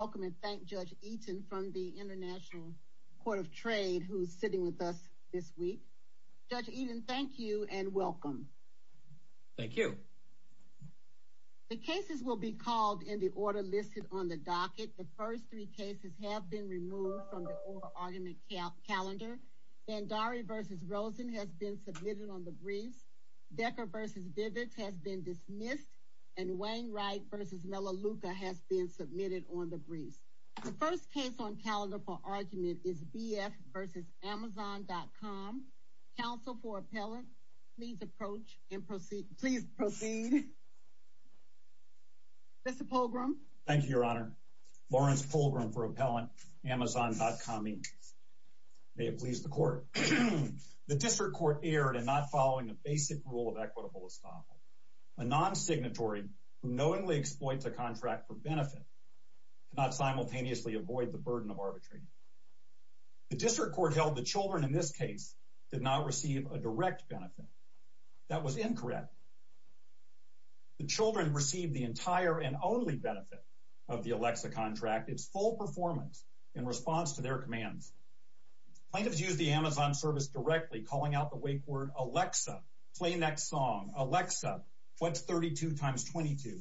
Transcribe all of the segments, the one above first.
Welcome and thank Judge Eaton from the International Court of Trade, who's sitting with us this week. Judge Eaton, thank you and welcome. Thank you. The cases will be called in the order listed on the docket. The first three cases have been removed from the oral argument calendar. Vandari v. Rosen has been submitted on the briefs. Decker v. Vivitz has been dismissed. And Wainwright v. Melaleuca has been submitted on the briefs. The first case on calendar for argument is B. F. v. Amazon.com. Counsel for Appellant, please approach and proceed. Please proceed. Mr. Polgrum. Thank you, Your Honor. Lawrence Polgrum for Appellant, Amazon.com Inc. May it please the Court. The District Court erred in not following the basic rule of equitable estoppel. A non-signatory who knowingly exploits a contract for benefit cannot simultaneously avoid the burden of arbitration. The District Court held the children in this case did not receive a direct benefit. That was incorrect. The children received the entire and only benefit of the Alexa contract, its full performance in response to their commands. Plaintiffs used the Amazon service directly, calling out the wake word Alexa, play next song, Alexa, what's 32 times 22,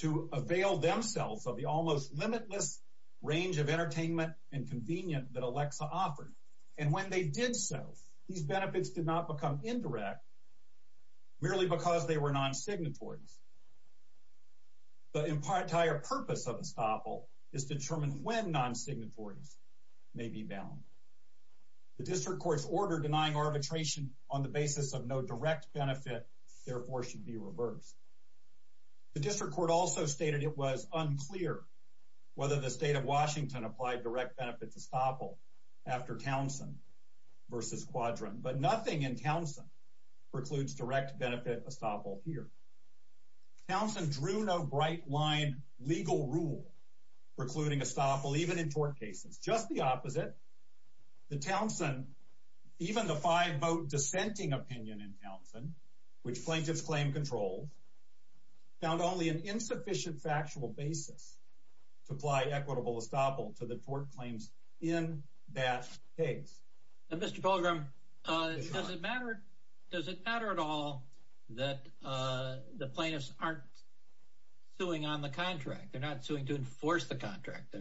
to avail themselves of the almost limitless range of entertainment and convenience that Alexa offered. And when they did so, these benefits did not become indirect merely because they were non-signatories. The entire purpose of estoppel is to determine when non-signatories may be bound. The District Court's order denying arbitration on the basis of no direct benefit, therefore, should be reversed. The District Court also stated it was unclear whether the State of Washington applied direct benefit to estoppel after Townsend v. Quadran. But nothing in Townsend precludes direct benefit estoppel here. Townsend drew no bright-line legal rule precluding estoppel even in tort cases. Just the opposite, the Townsend, even the five-vote dissenting opinion in Townsend, which plaintiffs claim controls, found only an insufficient factual basis to apply equitable estoppel to the tort claims in that case. Mr. Pilgrim, does it matter at all that the plaintiffs aren't suing on the contract? They're not suing to enforce the contract.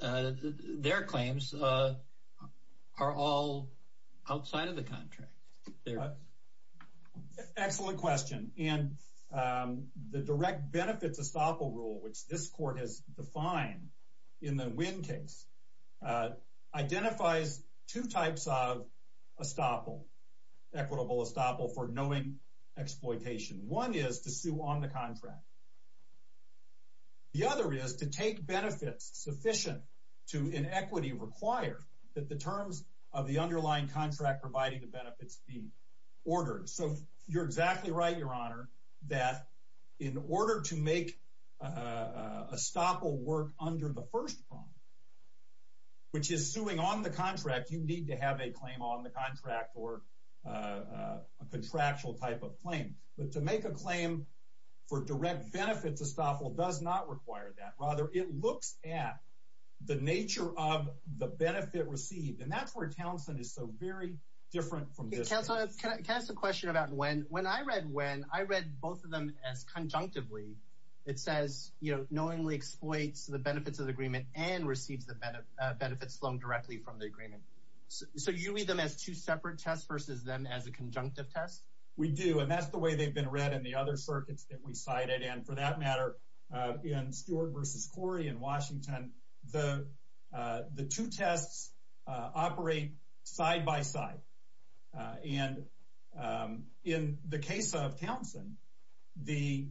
Their claims are all outside of the contract. Excellent question. The direct benefits estoppel rule, which this Court has defined in the Winn case, identifies two types of equitable estoppel for knowing exploitation. One is to sue on the contract. The other is to take benefits sufficient to, in equity, require that the terms of the underlying contract providing the benefits be ordered. So you're exactly right, Your Honor, that in order to make estoppel work under the first prong, which is suing on the contract, you need to have a claim on the contract or a contractual type of claim. But to make a claim for direct benefits estoppel does not require that. Rather, it looks at the nature of the benefit received, and that's where Townsend is so very different from this case. Counsel, can I ask a question about Winn? When I read Winn, I read both of them as conjunctively. It says, you know, knowingly exploits the benefits of the agreement and receives the benefits loaned directly from the agreement. So you read them as two separate tests versus them as a conjunctive test? We do, and that's the way they've been read in the other circuits that we cited. And for that matter, in Stewart versus Corey in Washington, the two tests operate side by side. And in the case of Townsend, the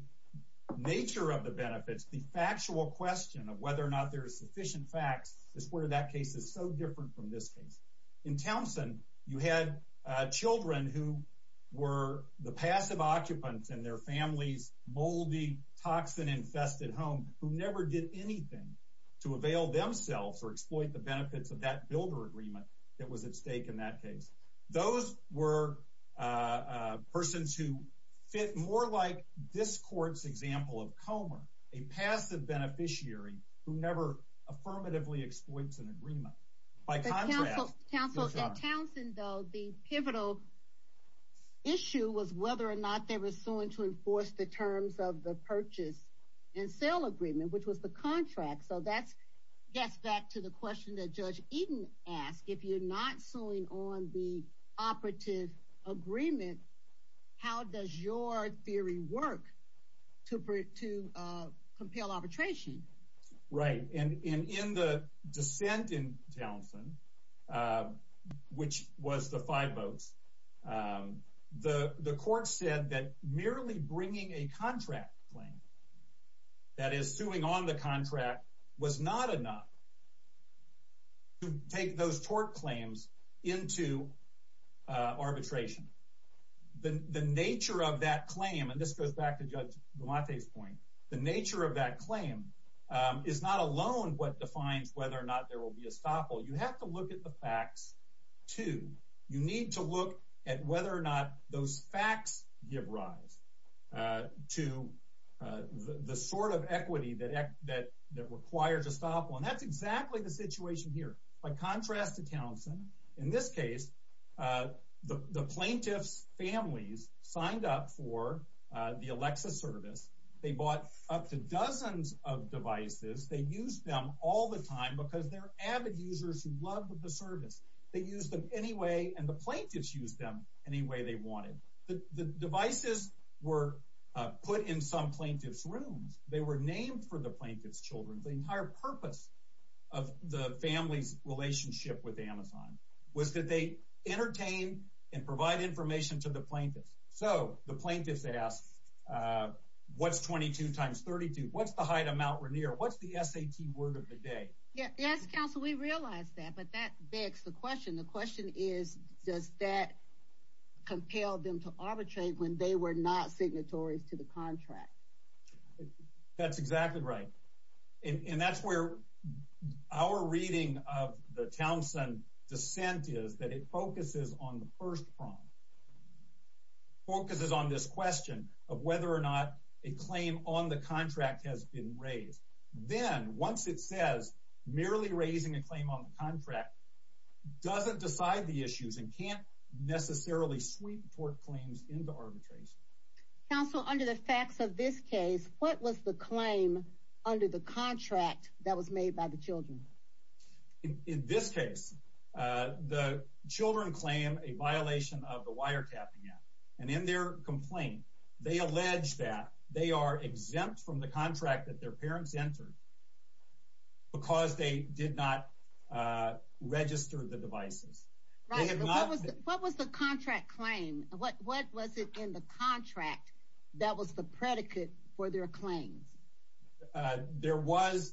nature of the benefits, the factual question of whether or not there is sufficient facts, is where that case is so different from this case. In Townsend, you had children who were the passive occupants in their family's moldy, toxin-infested home who never did anything to avail themselves or exploit the benefits of that builder agreement that was at stake in that case. Those were persons who fit more like this court's example of Comer, a passive beneficiary who never affirmatively exploits an agreement. In Townsend, though, the pivotal issue was whether or not they were suing to enforce the terms of the purchase and sale agreement, which was the contract. So that gets back to the question that Judge Eaton asked. If you're not suing on the operative agreement, how does your theory work to compel arbitration? Right. And in the dissent in Townsend, which was the five votes, the court said that merely bringing a contract claim, that is, suing on the contract, was not enough to take those tort claims into arbitration. The nature of that claim, and this goes back to Judge Gumate's point, the nature of that claim is not alone what defines whether or not there will be estoppel. You have to look at the facts, too. You need to look at whether or not those facts give rise to the sort of equity that requires estoppel. And that's exactly the situation here. By contrast to Townsend, in this case, the plaintiff's families signed up for the Alexa service. They bought up to dozens of devices. They used them all the time because they're avid users who love the service. They used them anyway, and the plaintiffs used them any way they wanted. The devices were put in some plaintiff's rooms. They were named for the plaintiff's children. The entire purpose of the family's relationship with Amazon was that they entertain and provide information to the plaintiffs. So the plaintiffs asked, what's 22 times 32? What's the height of Mount Rainier? What's the SAT word of the day? Yes, counsel, we realize that, but that begs the question. The question is, does that compel them to arbitrate when they were not signatories to the contract? That's exactly right. And that's where our reading of the Townsend dissent is, that it focuses on the first prong, focuses on this question of whether or not a claim on the contract has been raised. Then, once it says merely raising a claim on the contract, doesn't decide the issues and can't necessarily sweep tort claims into arbitration. Counsel, under the facts of this case, what was the claim under the contract that was made by the children? In this case, the children claim a violation of the Wiretapping Act. And in their complaint, they allege that they are exempt from the contract that their parents entered because they did not register the devices. What was the contract claim? What was it in the contract that was the predicate for their claims? The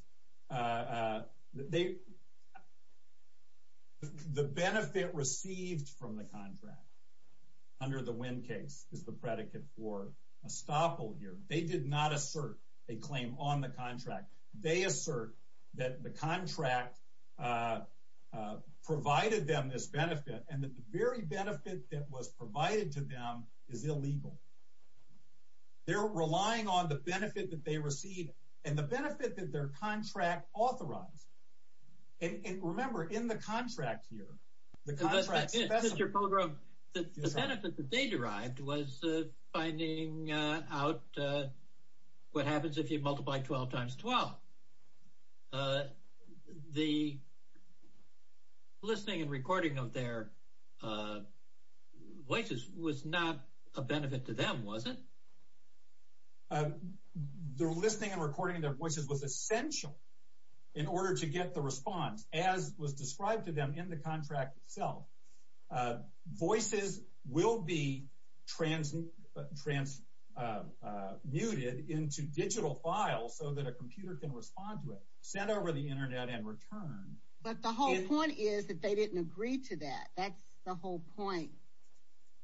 benefit received from the contract under the Winn case is the predicate for estoppel here. They did not assert a claim on the contract. They assert that the contract provided them this benefit and that the very benefit that was provided to them is illegal. They're relying on the benefit that they received and the benefit that their contract authorized. And remember, in the contract here, the contract specimen… Mr. Pilgrim, the benefit that they derived was finding out what happens if you multiply 12 times 12. The listening and recording of their voices was not a benefit to them, was it? Their listening and recording of their voices was essential in order to get the response, as was described to them in the contract itself. Voices will be transmuted into digital files so that a computer can respond to it, sent over the Internet and returned. But the whole point is that they didn't agree to that. That's the whole point.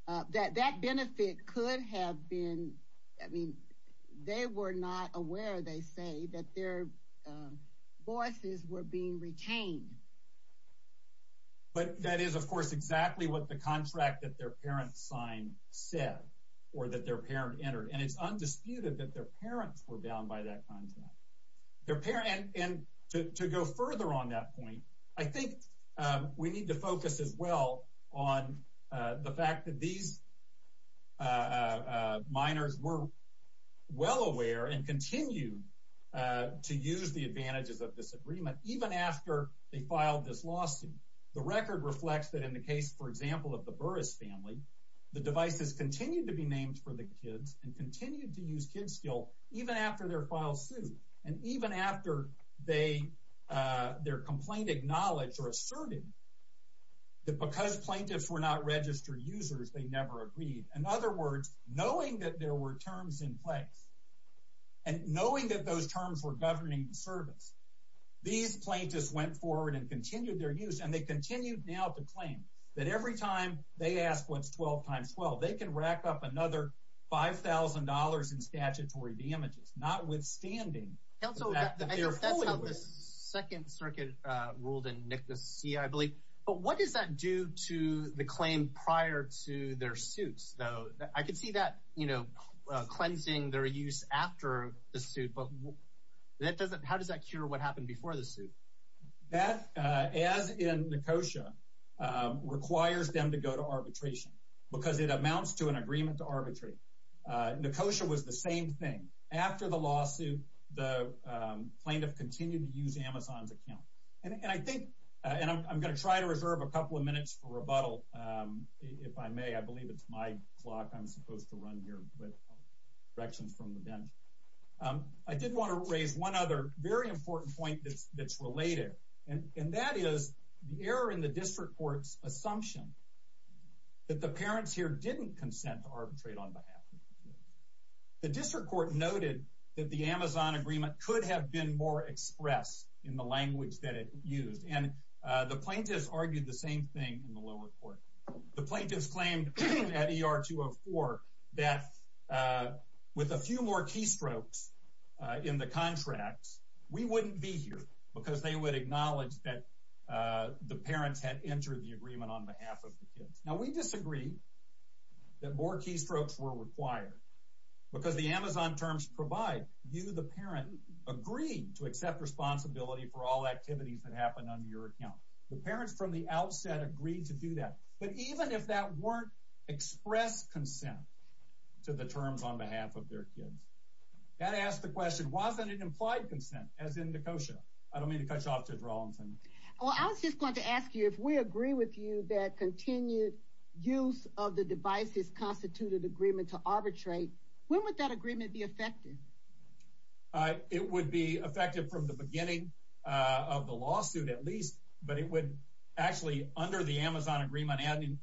That benefit could have been… I mean, they were not aware, they say, that their voices were being retained. But that is, of course, exactly what the contract that their parents signed said, or that their parent entered. And it's undisputed that their parents were bound by that contract. And to go further on that point, I think we need to focus as well on the fact that these minors were well aware and continued to use the advantages of this agreement, even after they filed this lawsuit. The record reflects that in the case, for example, of the Burris family, the devices continued to be named for the kids and continued to use Kidskill even after their files sued. And even after their complaint acknowledged or asserted that because plaintiffs were not registered users, they never agreed. In other words, knowing that there were terms in place and knowing that those terms were governing the service, these plaintiffs went forward and continued their use. And they continue now to claim that every time they ask what's 12 times 12, they can rack up another $5,000 in statutory damages, notwithstanding that they're fully aware. Counsel, I think that's how the Second Circuit ruled in Nicholas C., I believe. But what does that do to the claim prior to their suits, though? I could see that, you know, cleansing their use after the suit, but how does that cure what happened before the suit? That, as in Nekosha, requires them to go to arbitration because it amounts to an agreement to arbitrate. Nekosha was the same thing. After the lawsuit, the plaintiff continued to use Amazon's account. And I think – and I'm going to try to reserve a couple of minutes for rebuttal, if I may. I believe it's my clock I'm supposed to run here with directions from the bench. I did want to raise one other very important point that's related, and that is the error in the district court's assumption that the parents here didn't consent to arbitrate on behalf. The district court noted that the Amazon agreement could have been more expressed in the language that it used. And the plaintiffs argued the same thing in the lower court. The plaintiffs claimed at ER 204 that with a few more keystrokes in the contracts, we wouldn't be here because they would acknowledge that the parents had entered the agreement on behalf of the kids. Now, we disagree that more keystrokes were required because the Amazon terms provide you, the parent, agreed to accept responsibility for all activities that happened under your account. The parents from the outset agreed to do that. But even if that weren't expressed consent to the terms on behalf of their kids, that asks the question, wasn't it implied consent, as in Nekosha? I don't mean to cut you off, Judge Rawlinson. Well, I was just going to ask you, if we agree with you that continued use of the device is constituted agreement to arbitrate, when would that agreement be effective? It would be effective from the beginning of the lawsuit, at least. But it would actually, under the Amazon agreement,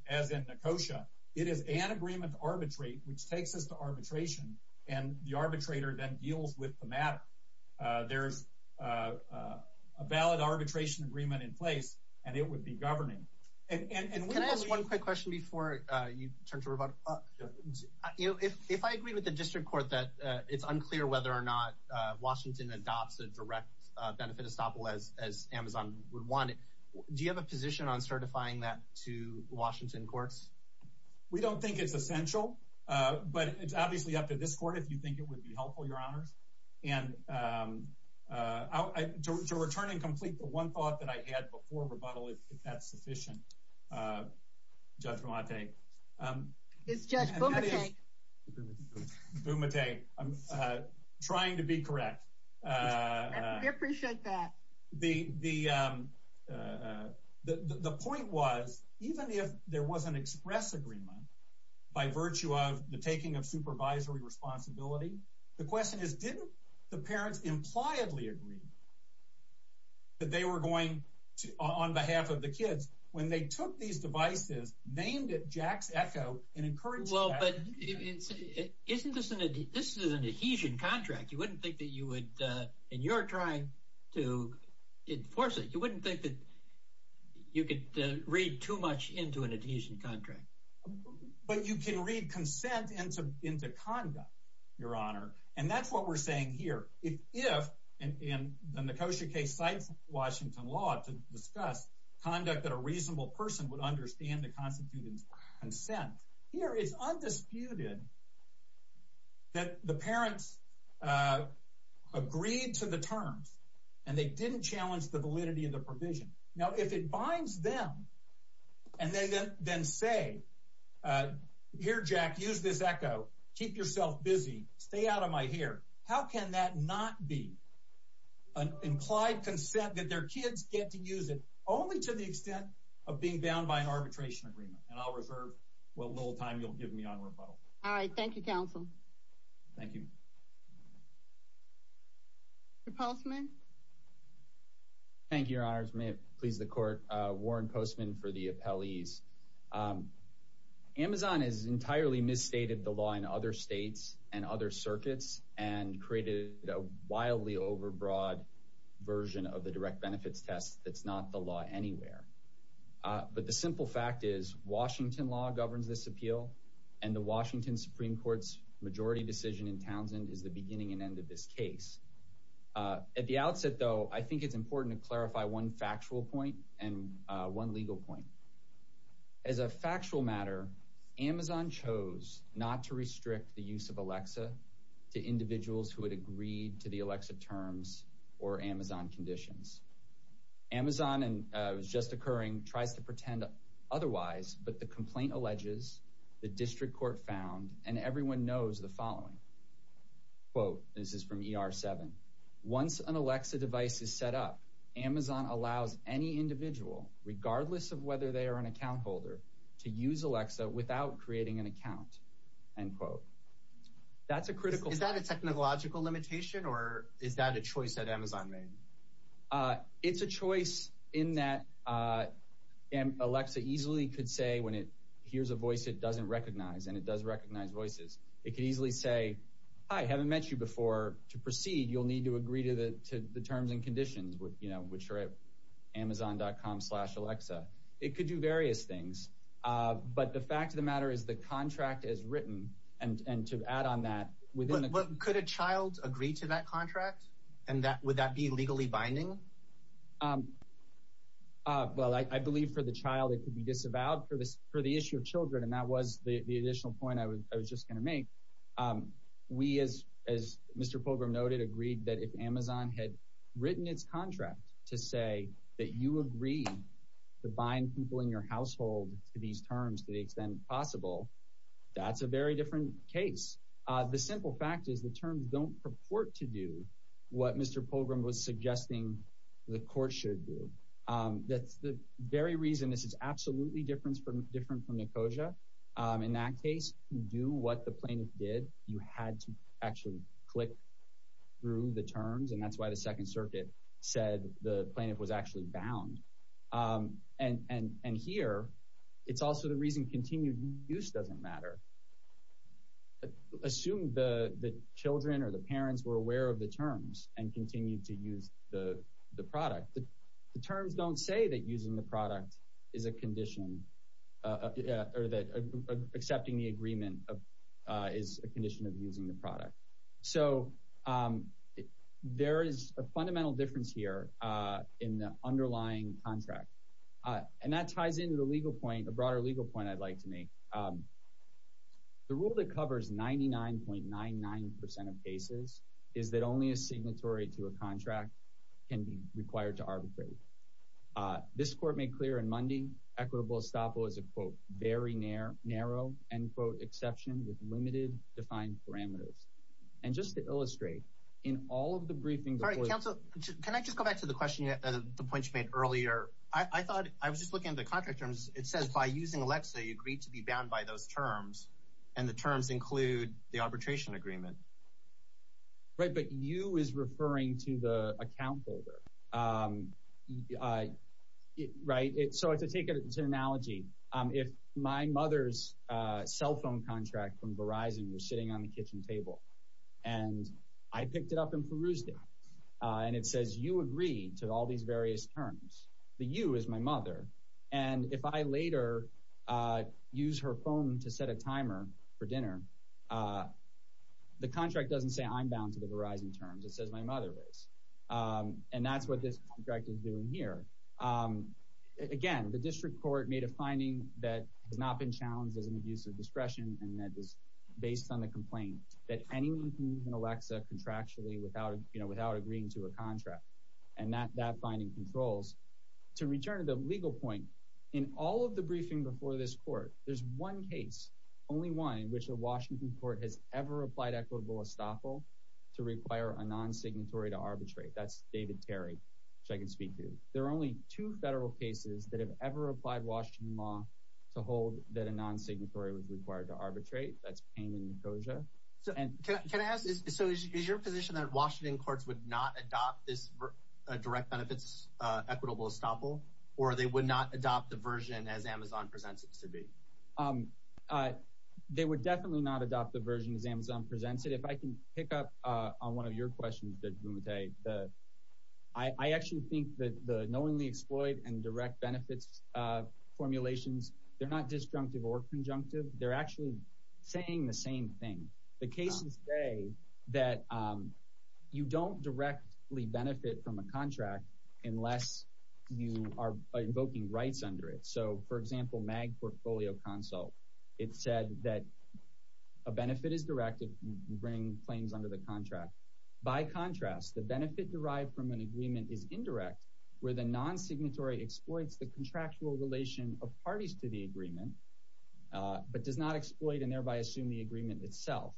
as in Nekosha, it is an agreement to arbitrate, which takes us to arbitration, and the arbitrator then deals with the matter. There's a valid arbitration agreement in place, and it would be governing. Can I ask one quick question before you turn to rebuttal? If I agree with the district court that it's unclear whether or not Washington adopts a direct benefit estoppel as Amazon would want it, do you have a position on certifying that to Washington courts? We don't think it's essential, but it's obviously up to this court if you think it would be helpful, Your Honors. And to return and complete the one thought that I had before rebuttal, if that's sufficient, Judge Romante. It's Judge Bumate. Bumate. I'm trying to be correct. We appreciate that. The point was, even if there was an express agreement by virtue of the taking of supervisory responsibility, the question is, didn't the parents impliedly agree that they were going to, on behalf of the kids, when they took these devices, named it Jack's Echo, and encouraged that? Well, but isn't this an adhesion contract? You wouldn't think that you would, and you're trying to enforce it. You wouldn't think that you could read too much into an adhesion contract. But you can read consent into conduct, Your Honor. And that's what we're saying here. If, and the Nicosia case cites Washington law to discuss conduct that a reasonable person would understand to constitute consent, here it's undisputed that the parents agreed to the terms, and they didn't challenge the validity of the provision. Now, if it binds them, and they then say, here, Jack, use this Echo, keep yourself busy, stay out of my hair, how can that not be an implied consent that their kids get to use it, only to the extent of being bound by an arbitration agreement? And I'll reserve the little time you'll give me on rebuttal. All right. Thank you, counsel. Thank you. Repulseman? Thank you, Your Honors. May it please the Court. Warren Postman for the appellees. Amazon has entirely misstated the law in other states and other circuits and created a wildly overbroad version of the direct benefits test that's not the law anywhere. But the simple fact is Washington law governs this appeal, and the Washington Supreme Court's majority decision in Townsend is the beginning and end of this case. At the outset, though, I think it's important to clarify one factual point and one legal point. As a factual matter, Amazon chose not to restrict the use of Alexa to individuals who had agreed to the Alexa terms or Amazon conditions. Amazon, and it was just occurring, tries to pretend otherwise, but the complaint alleges the district court found, and everyone knows the following. This is from ER7. Once an Alexa device is set up, Amazon allows any individual, regardless of whether they are an account holder, to use Alexa without creating an account. Is that a technological limitation, or is that a choice that Amazon made? It's a choice in that Alexa easily could say when it hears a voice it doesn't recognize, and it does recognize voices. It could easily say, hi, haven't met you before. To proceed, you'll need to agree to the terms and conditions, which are at Amazon.com slash Alexa. It could do various things, but the fact of the matter is the contract is written, and to add on that, within the— Could a child agree to that contract, and would that be legally binding? Well, I believe for the child it could be disavowed. For the issue of children, and that was the additional point I was just going to make, we, as Mr. Pilgrim noted, agreed that if Amazon had written its contract to say that you agreed to bind people in your household to these terms to the extent possible, that's a very different case. The simple fact is the terms don't purport to do what Mr. Pilgrim was suggesting the court should do. That's the very reason this is absolutely different from NACOJA. In that case, to do what the plaintiff did, you had to actually click through the terms, and that's why the Second Circuit said the plaintiff was actually bound. And here, it's also the reason continued use doesn't matter. Assume the children or the parents were aware of the terms and continued to use the product. The terms don't say that using the product is a condition, or that accepting the agreement is a condition of using the product. So there is a fundamental difference here in the underlying contract, and that ties into the legal point, a broader legal point I'd like to make. The rule that covers 99.99% of cases is that only a signatory to a contract can be required to arbitrate. This court made clear on Monday equitable estoppel is a, quote, very narrow, end quote, exception with limited defined parameters. And just to illustrate, in all of the briefings... All right, counsel, can I just go back to the question, the point you made earlier? I thought I was just looking at the contract terms. It says by using Alexa, you agreed to be bound by those terms, and the terms include the arbitration agreement. Right, but you is referring to the account holder, right? So to take it as an analogy, if my mother's cell phone contract from Verizon was sitting on the kitchen table, and I picked it up and perused it, and it says you agree to all these various terms, the you is my mother, and if I later use her phone to set a timer for dinner, the contract doesn't say I'm bound to the Verizon terms. It says my mother is, and that's what this contract is doing here. Again, the district court made a finding that has not been challenged as an abuse of discretion, and that is based on the complaint that anyone can use an Alexa contractually without agreeing to a contract, and that finding controls. To return to the legal point, in all of the briefing before this court, there's one case, only one in which a Washington court has ever applied equitable estoppel to require a non-signatory to arbitrate. That's David Terry, which I can speak to. There are only two federal cases that have ever applied Washington law to hold that a non-signatory was required to arbitrate. That's Payne and Nicosia. Can I ask, so is your position that Washington courts would not adopt this direct benefits equitable estoppel, or they would not adopt the version as Amazon presents it to be? They would definitely not adopt the version as Amazon presents it. If I can pick up on one of your questions, Judge Bumate, I actually think that the knowingly exploit and direct benefits formulations, they're not disjunctive or conjunctive. They're actually saying the same thing. The cases say that you don't directly benefit from a contract unless you are invoking rights under it. So, for example, MAG Portfolio Consult, it said that a benefit is directed to bring claims under the contract. By contrast, the benefit derived from an agreement is indirect, where the non-signatory exploits the contractual relation of parties to the agreement, but does not exploit and thereby assume the agreement itself.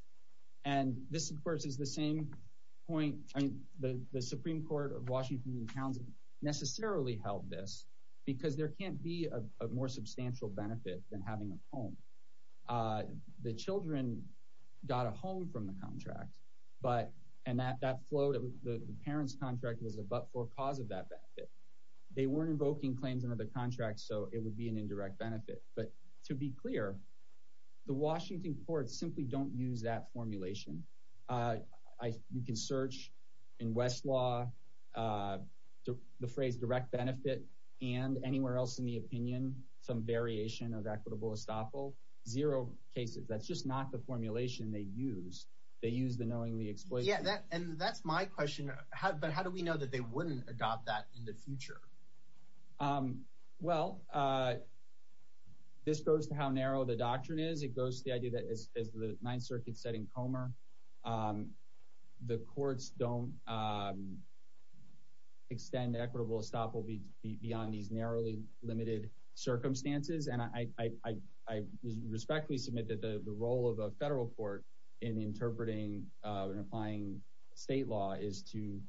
And this, of course, is the same point. I mean, the Supreme Court of Washington and counts necessarily held this because there can't be a more substantial benefit than having a home. The children got a home from the contract, and that flowed. The parents' contract was a but-for cause of that benefit. They weren't invoking claims under the contract, so it would be an indirect benefit. But to be clear, the Washington courts simply don't use that formulation. You can search in Westlaw the phrase direct benefit and anywhere else in the opinion, some variation of equitable estoppel. Zero cases. That's just not the formulation they use. They use the knowingly exploits. Yeah, and that's my question. But how do we know that they wouldn't adopt that in the future? Well, this goes to how narrow the doctrine is. I guess it goes to the idea that, as the Ninth Circuit said in Comer, the courts don't extend equitable estoppel beyond these narrowly limited circumstances. And I respectfully submit that the role of a federal court in interpreting and applying state law is to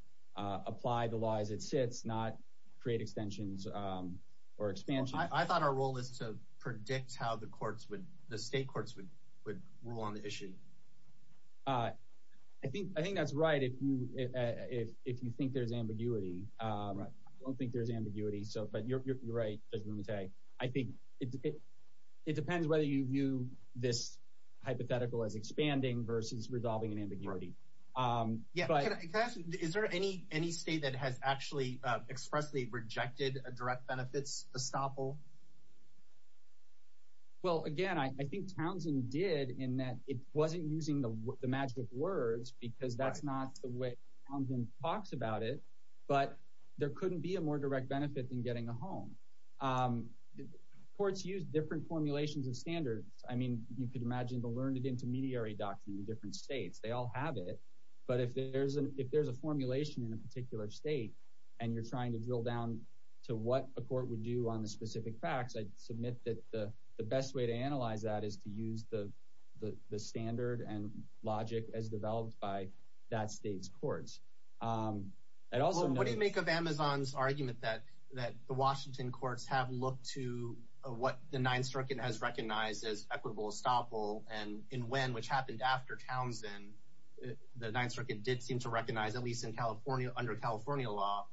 apply the law as it sits, not create extensions or expansions. I thought our role is to predict how the state courts would rule on the issue. I think that's right if you think there's ambiguity. I don't think there's ambiguity, but you're right, Judge Bumate. I think it depends whether you view this hypothetical as expanding versus resolving an ambiguity. Yeah, can I ask, is there any state that has actually expressly rejected a direct benefits estoppel? Well, again, I think Townsend did in that it wasn't using the magic words because that's not the way Townsend talks about it, but there couldn't be a more direct benefit than getting a home. Courts use different formulations of standards. I mean, you could imagine the learned-intermediary doctrine in different states. They all have it. But if there's a formulation in a particular state and you're trying to drill down to what a court would do on the specific facts, I'd submit that the best way to analyze that is to use the standard and logic as developed by that state's courts. What do you make of Amazon's argument that the Washington courts have looked to what the Ninth Circuit has recognized as equitable estoppel and in when, which happened after Townsend, the Ninth Circuit did seem to recognize, at least under California law,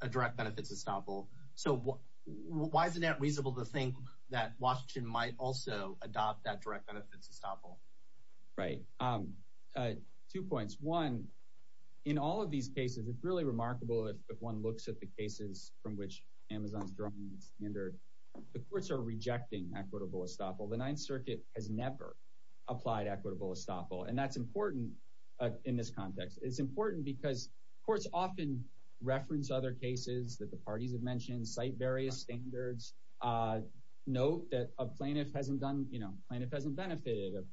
a direct benefits estoppel. So why is it not reasonable to think that Washington might also adopt that direct benefits estoppel? Right. Two points. One, in all of these cases, it's really remarkable if one looks at the cases from which Amazon's drawing the standard. The courts are rejecting equitable estoppel. The Ninth Circuit has never applied equitable estoppel. And that's important in this context. It's important because courts often reference other cases that the parties have mentioned, cite various standards, note that a plaintiff hasn't benefited,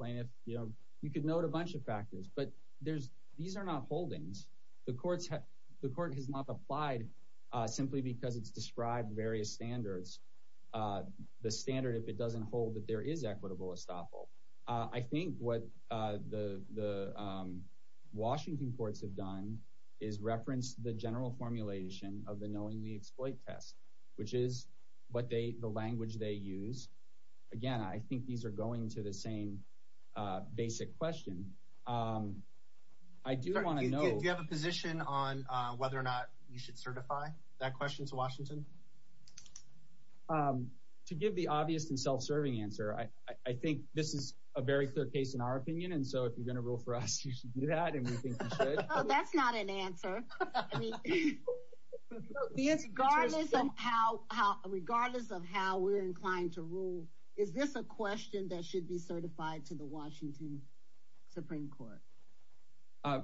you could note a bunch of factors. But these are not holdings. The court has not applied simply because it's described various standards. The standard, if it doesn't hold that there is equitable estoppel. I think what the Washington courts have done is reference the general formulation of the knowingly exploit test, which is the language they use. Again, I think these are going to the same basic question. Do you have a position on whether or not you should certify that question to Washington? To give the obvious and self-serving answer, I think this is a very clear case in our opinion. And so if you're going to rule for us, you should do that. That's not an answer. Regardless of how we're inclined to rule, is this a question that should be certified to the Washington Supreme Court?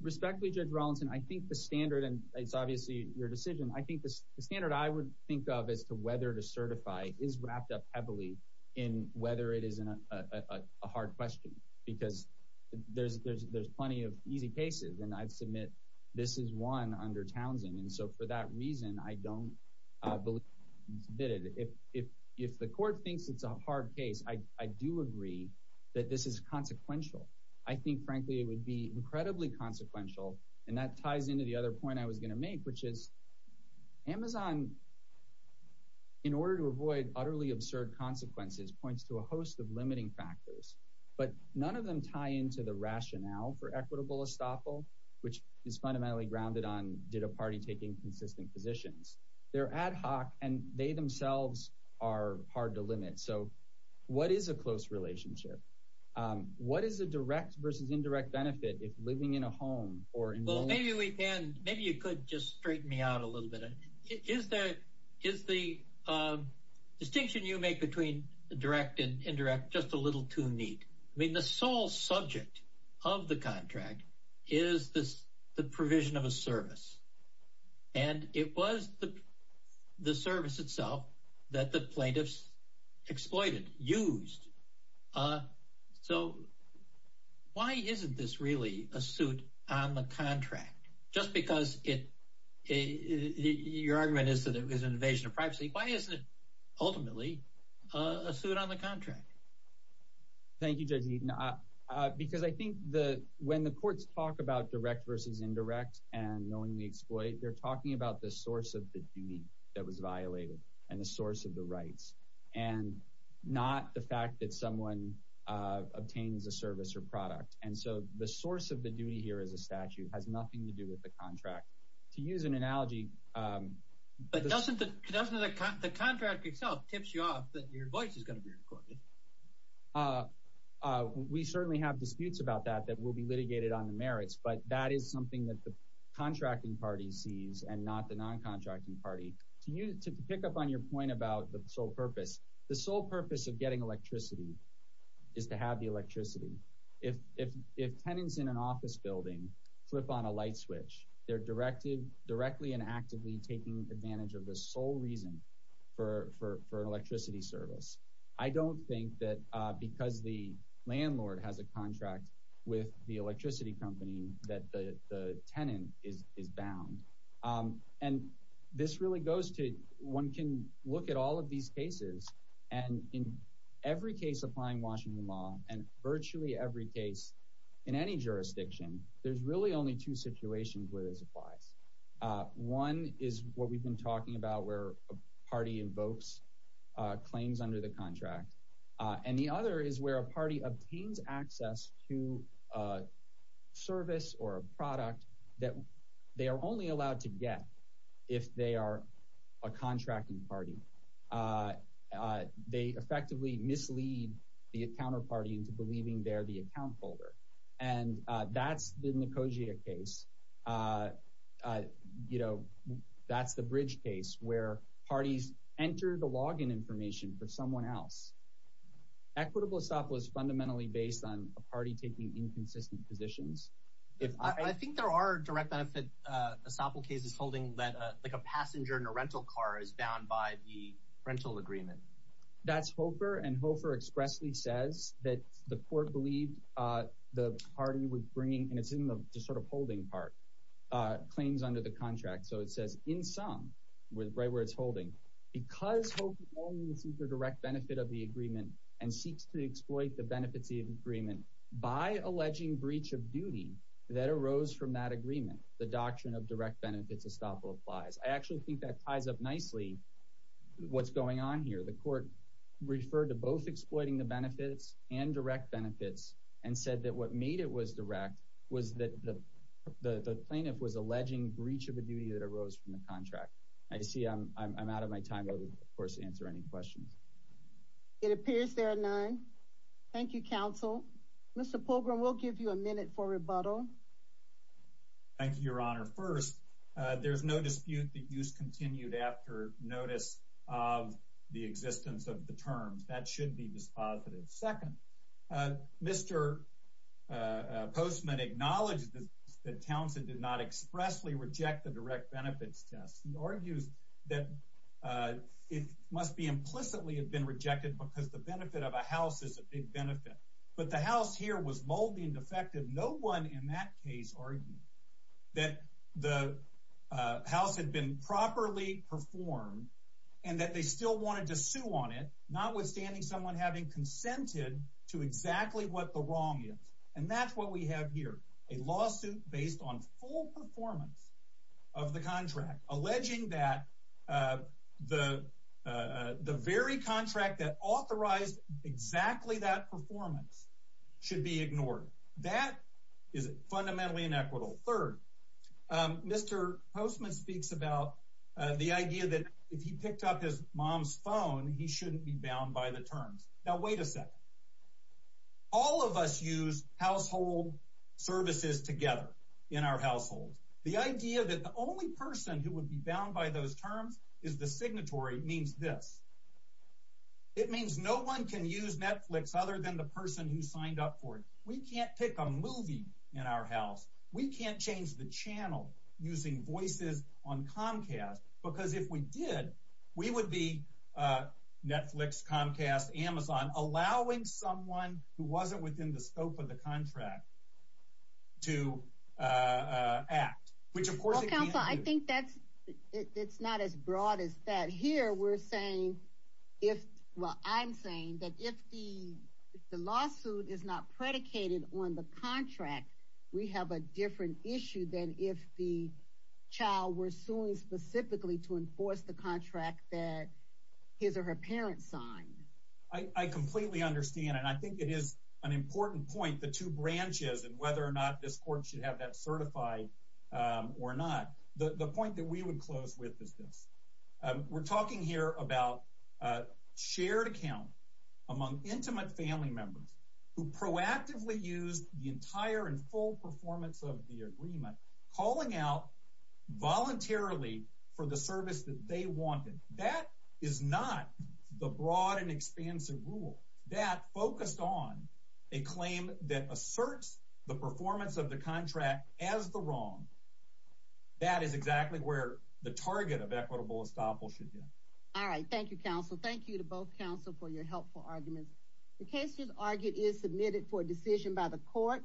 Respectfully, Judge Rawlinson, I think the standard, and it's obviously your decision, I think the standard I would think of as to whether to certify is wrapped up heavily in whether it is a hard question. Because there's plenty of easy cases, and I'd submit this is one under Townsend. And so for that reason, I don't believe it should be submitted. If the court thinks it's a hard case, I do agree that this is consequential. I think, frankly, it would be incredibly consequential. And that ties into the other point I was going to make, which is Amazon, in order to avoid utterly absurd consequences, points to a host of limiting factors. But none of them tie into the rationale for equitable estoppel, which is fundamentally grounded on did a party take inconsistent positions. They're ad hoc, and they themselves are hard to limit. So what is a close relationship? What is a direct versus indirect benefit if living in a home or enrolling? Well, maybe you could just straighten me out a little bit. Is the distinction you make between direct and indirect just a little too neat? I mean, the sole subject of the contract is the provision of a service. And it was the service itself that the plaintiffs exploited, used. So why isn't this really a suit on the contract? Just because your argument is that it was an invasion of privacy, why isn't it ultimately a suit on the contract? Thank you, Judge Eaton. Because I think when the courts talk about direct versus indirect and knowingly exploit, they're talking about the source of the duty that was violated and the source of the rights, and not the fact that someone obtains a service or product. And so the source of the duty here as a statute has nothing to do with the contract. To use an analogy— But doesn't the contract itself tip you off that your voice is going to be recorded? We certainly have disputes about that that will be litigated on the merits, but that is something that the contracting party sees and not the non-contracting party. To pick up on your point about the sole purpose, the sole purpose of getting electricity is to have the electricity. If tenants in an office building flip on a light switch, they're directly and actively taking advantage of the sole reason for an electricity service. I don't think that because the landlord has a contract with the electricity company that the tenant is bound. And this really goes to—one can look at all of these cases, and in every case applying Washington law, and virtually every case in any jurisdiction, there's really only two situations where this applies. One is what we've been talking about where a party invokes claims under the contract. And the other is where a party obtains access to a service or a product that they are only allowed to get if they are a contracting party. They effectively mislead the counterparty into believing they're the account holder. And that's the Nicosia case. That's the Bridge case where parties enter the login information for someone else. Equitable estoppel is fundamentally based on a party taking inconsistent positions. I think there are direct benefit estoppel cases holding that a passenger in a rental car is bound by the rental agreement. That's Hofer, and Hofer expressly says that the court believed the party was bringing— and it's in the sort of holding part—claims under the contract. So it says, in sum, right where it's holding, because Hofer only seeks the direct benefit of the agreement and seeks to exploit the benefits of the agreement by alleging breach of duty that arose from that agreement, the doctrine of direct benefits estoppel applies. I actually think that ties up nicely what's going on here. The court referred to both exploiting the benefits and direct benefits and said that what made it was direct was that the plaintiff was alleging breach of a duty that arose from the contract. I see I'm out of my time. I will, of course, answer any questions. It appears there are none. Thank you, counsel. Mr. Pogrom, we'll give you a minute for rebuttal. Thank you, Your Honor. First, there's no dispute that use continued after notice of the existence of the terms. That should be dispositive. Second, Mr. Postman acknowledged that Townsend did not expressly reject the direct benefits test. He argues that it must be implicitly have been rejected because the benefit of a house is a big benefit. But the house here was moldy and defective. No one in that case argued that the house had been properly performed and that they still wanted to sue on it, notwithstanding someone having consented to exactly what the wrong is. And that's what we have here, a lawsuit based on full performance of the contract, alleging that the very contract that authorized exactly that performance should be ignored. That is fundamentally inequitable. Third, Mr. Postman speaks about the idea that if he picked up his mom's phone, he shouldn't be bound by the terms. Now, wait a second. All of us use household services together in our households. The idea that the only person who would be bound by those terms is the signatory means this. It means no one can use Netflix other than the person who signed up for it. We can't pick a movie in our house. We can't change the channel using voices on Comcast because if we did, we would be Netflix, Comcast, Amazon, allowing someone who wasn't within the scope of the contract to act, which of course it can't do. Well, counsel, I think that's not as broad as that. Here, I'm saying that if the lawsuit is not predicated on the contract, we have a different issue than if the child were suing specifically to enforce the contract that his or her parents signed. I completely understand, and I think it is an important point, the two branches, and whether or not this court should have that certified or not. The point that we would close with is this. We're talking here about a shared account among intimate family members who proactively used the entire and full performance of the agreement, calling out voluntarily for the service that they wanted. That is not the broad and expansive rule. That focused on a claim that asserts the performance of the contract as the wrong. That is exactly where the target of equitable estoppel should be. All right. Thank you, counsel. Thank you to both counsel for your helpful arguments. The case, as argued, is submitted for decision by the court.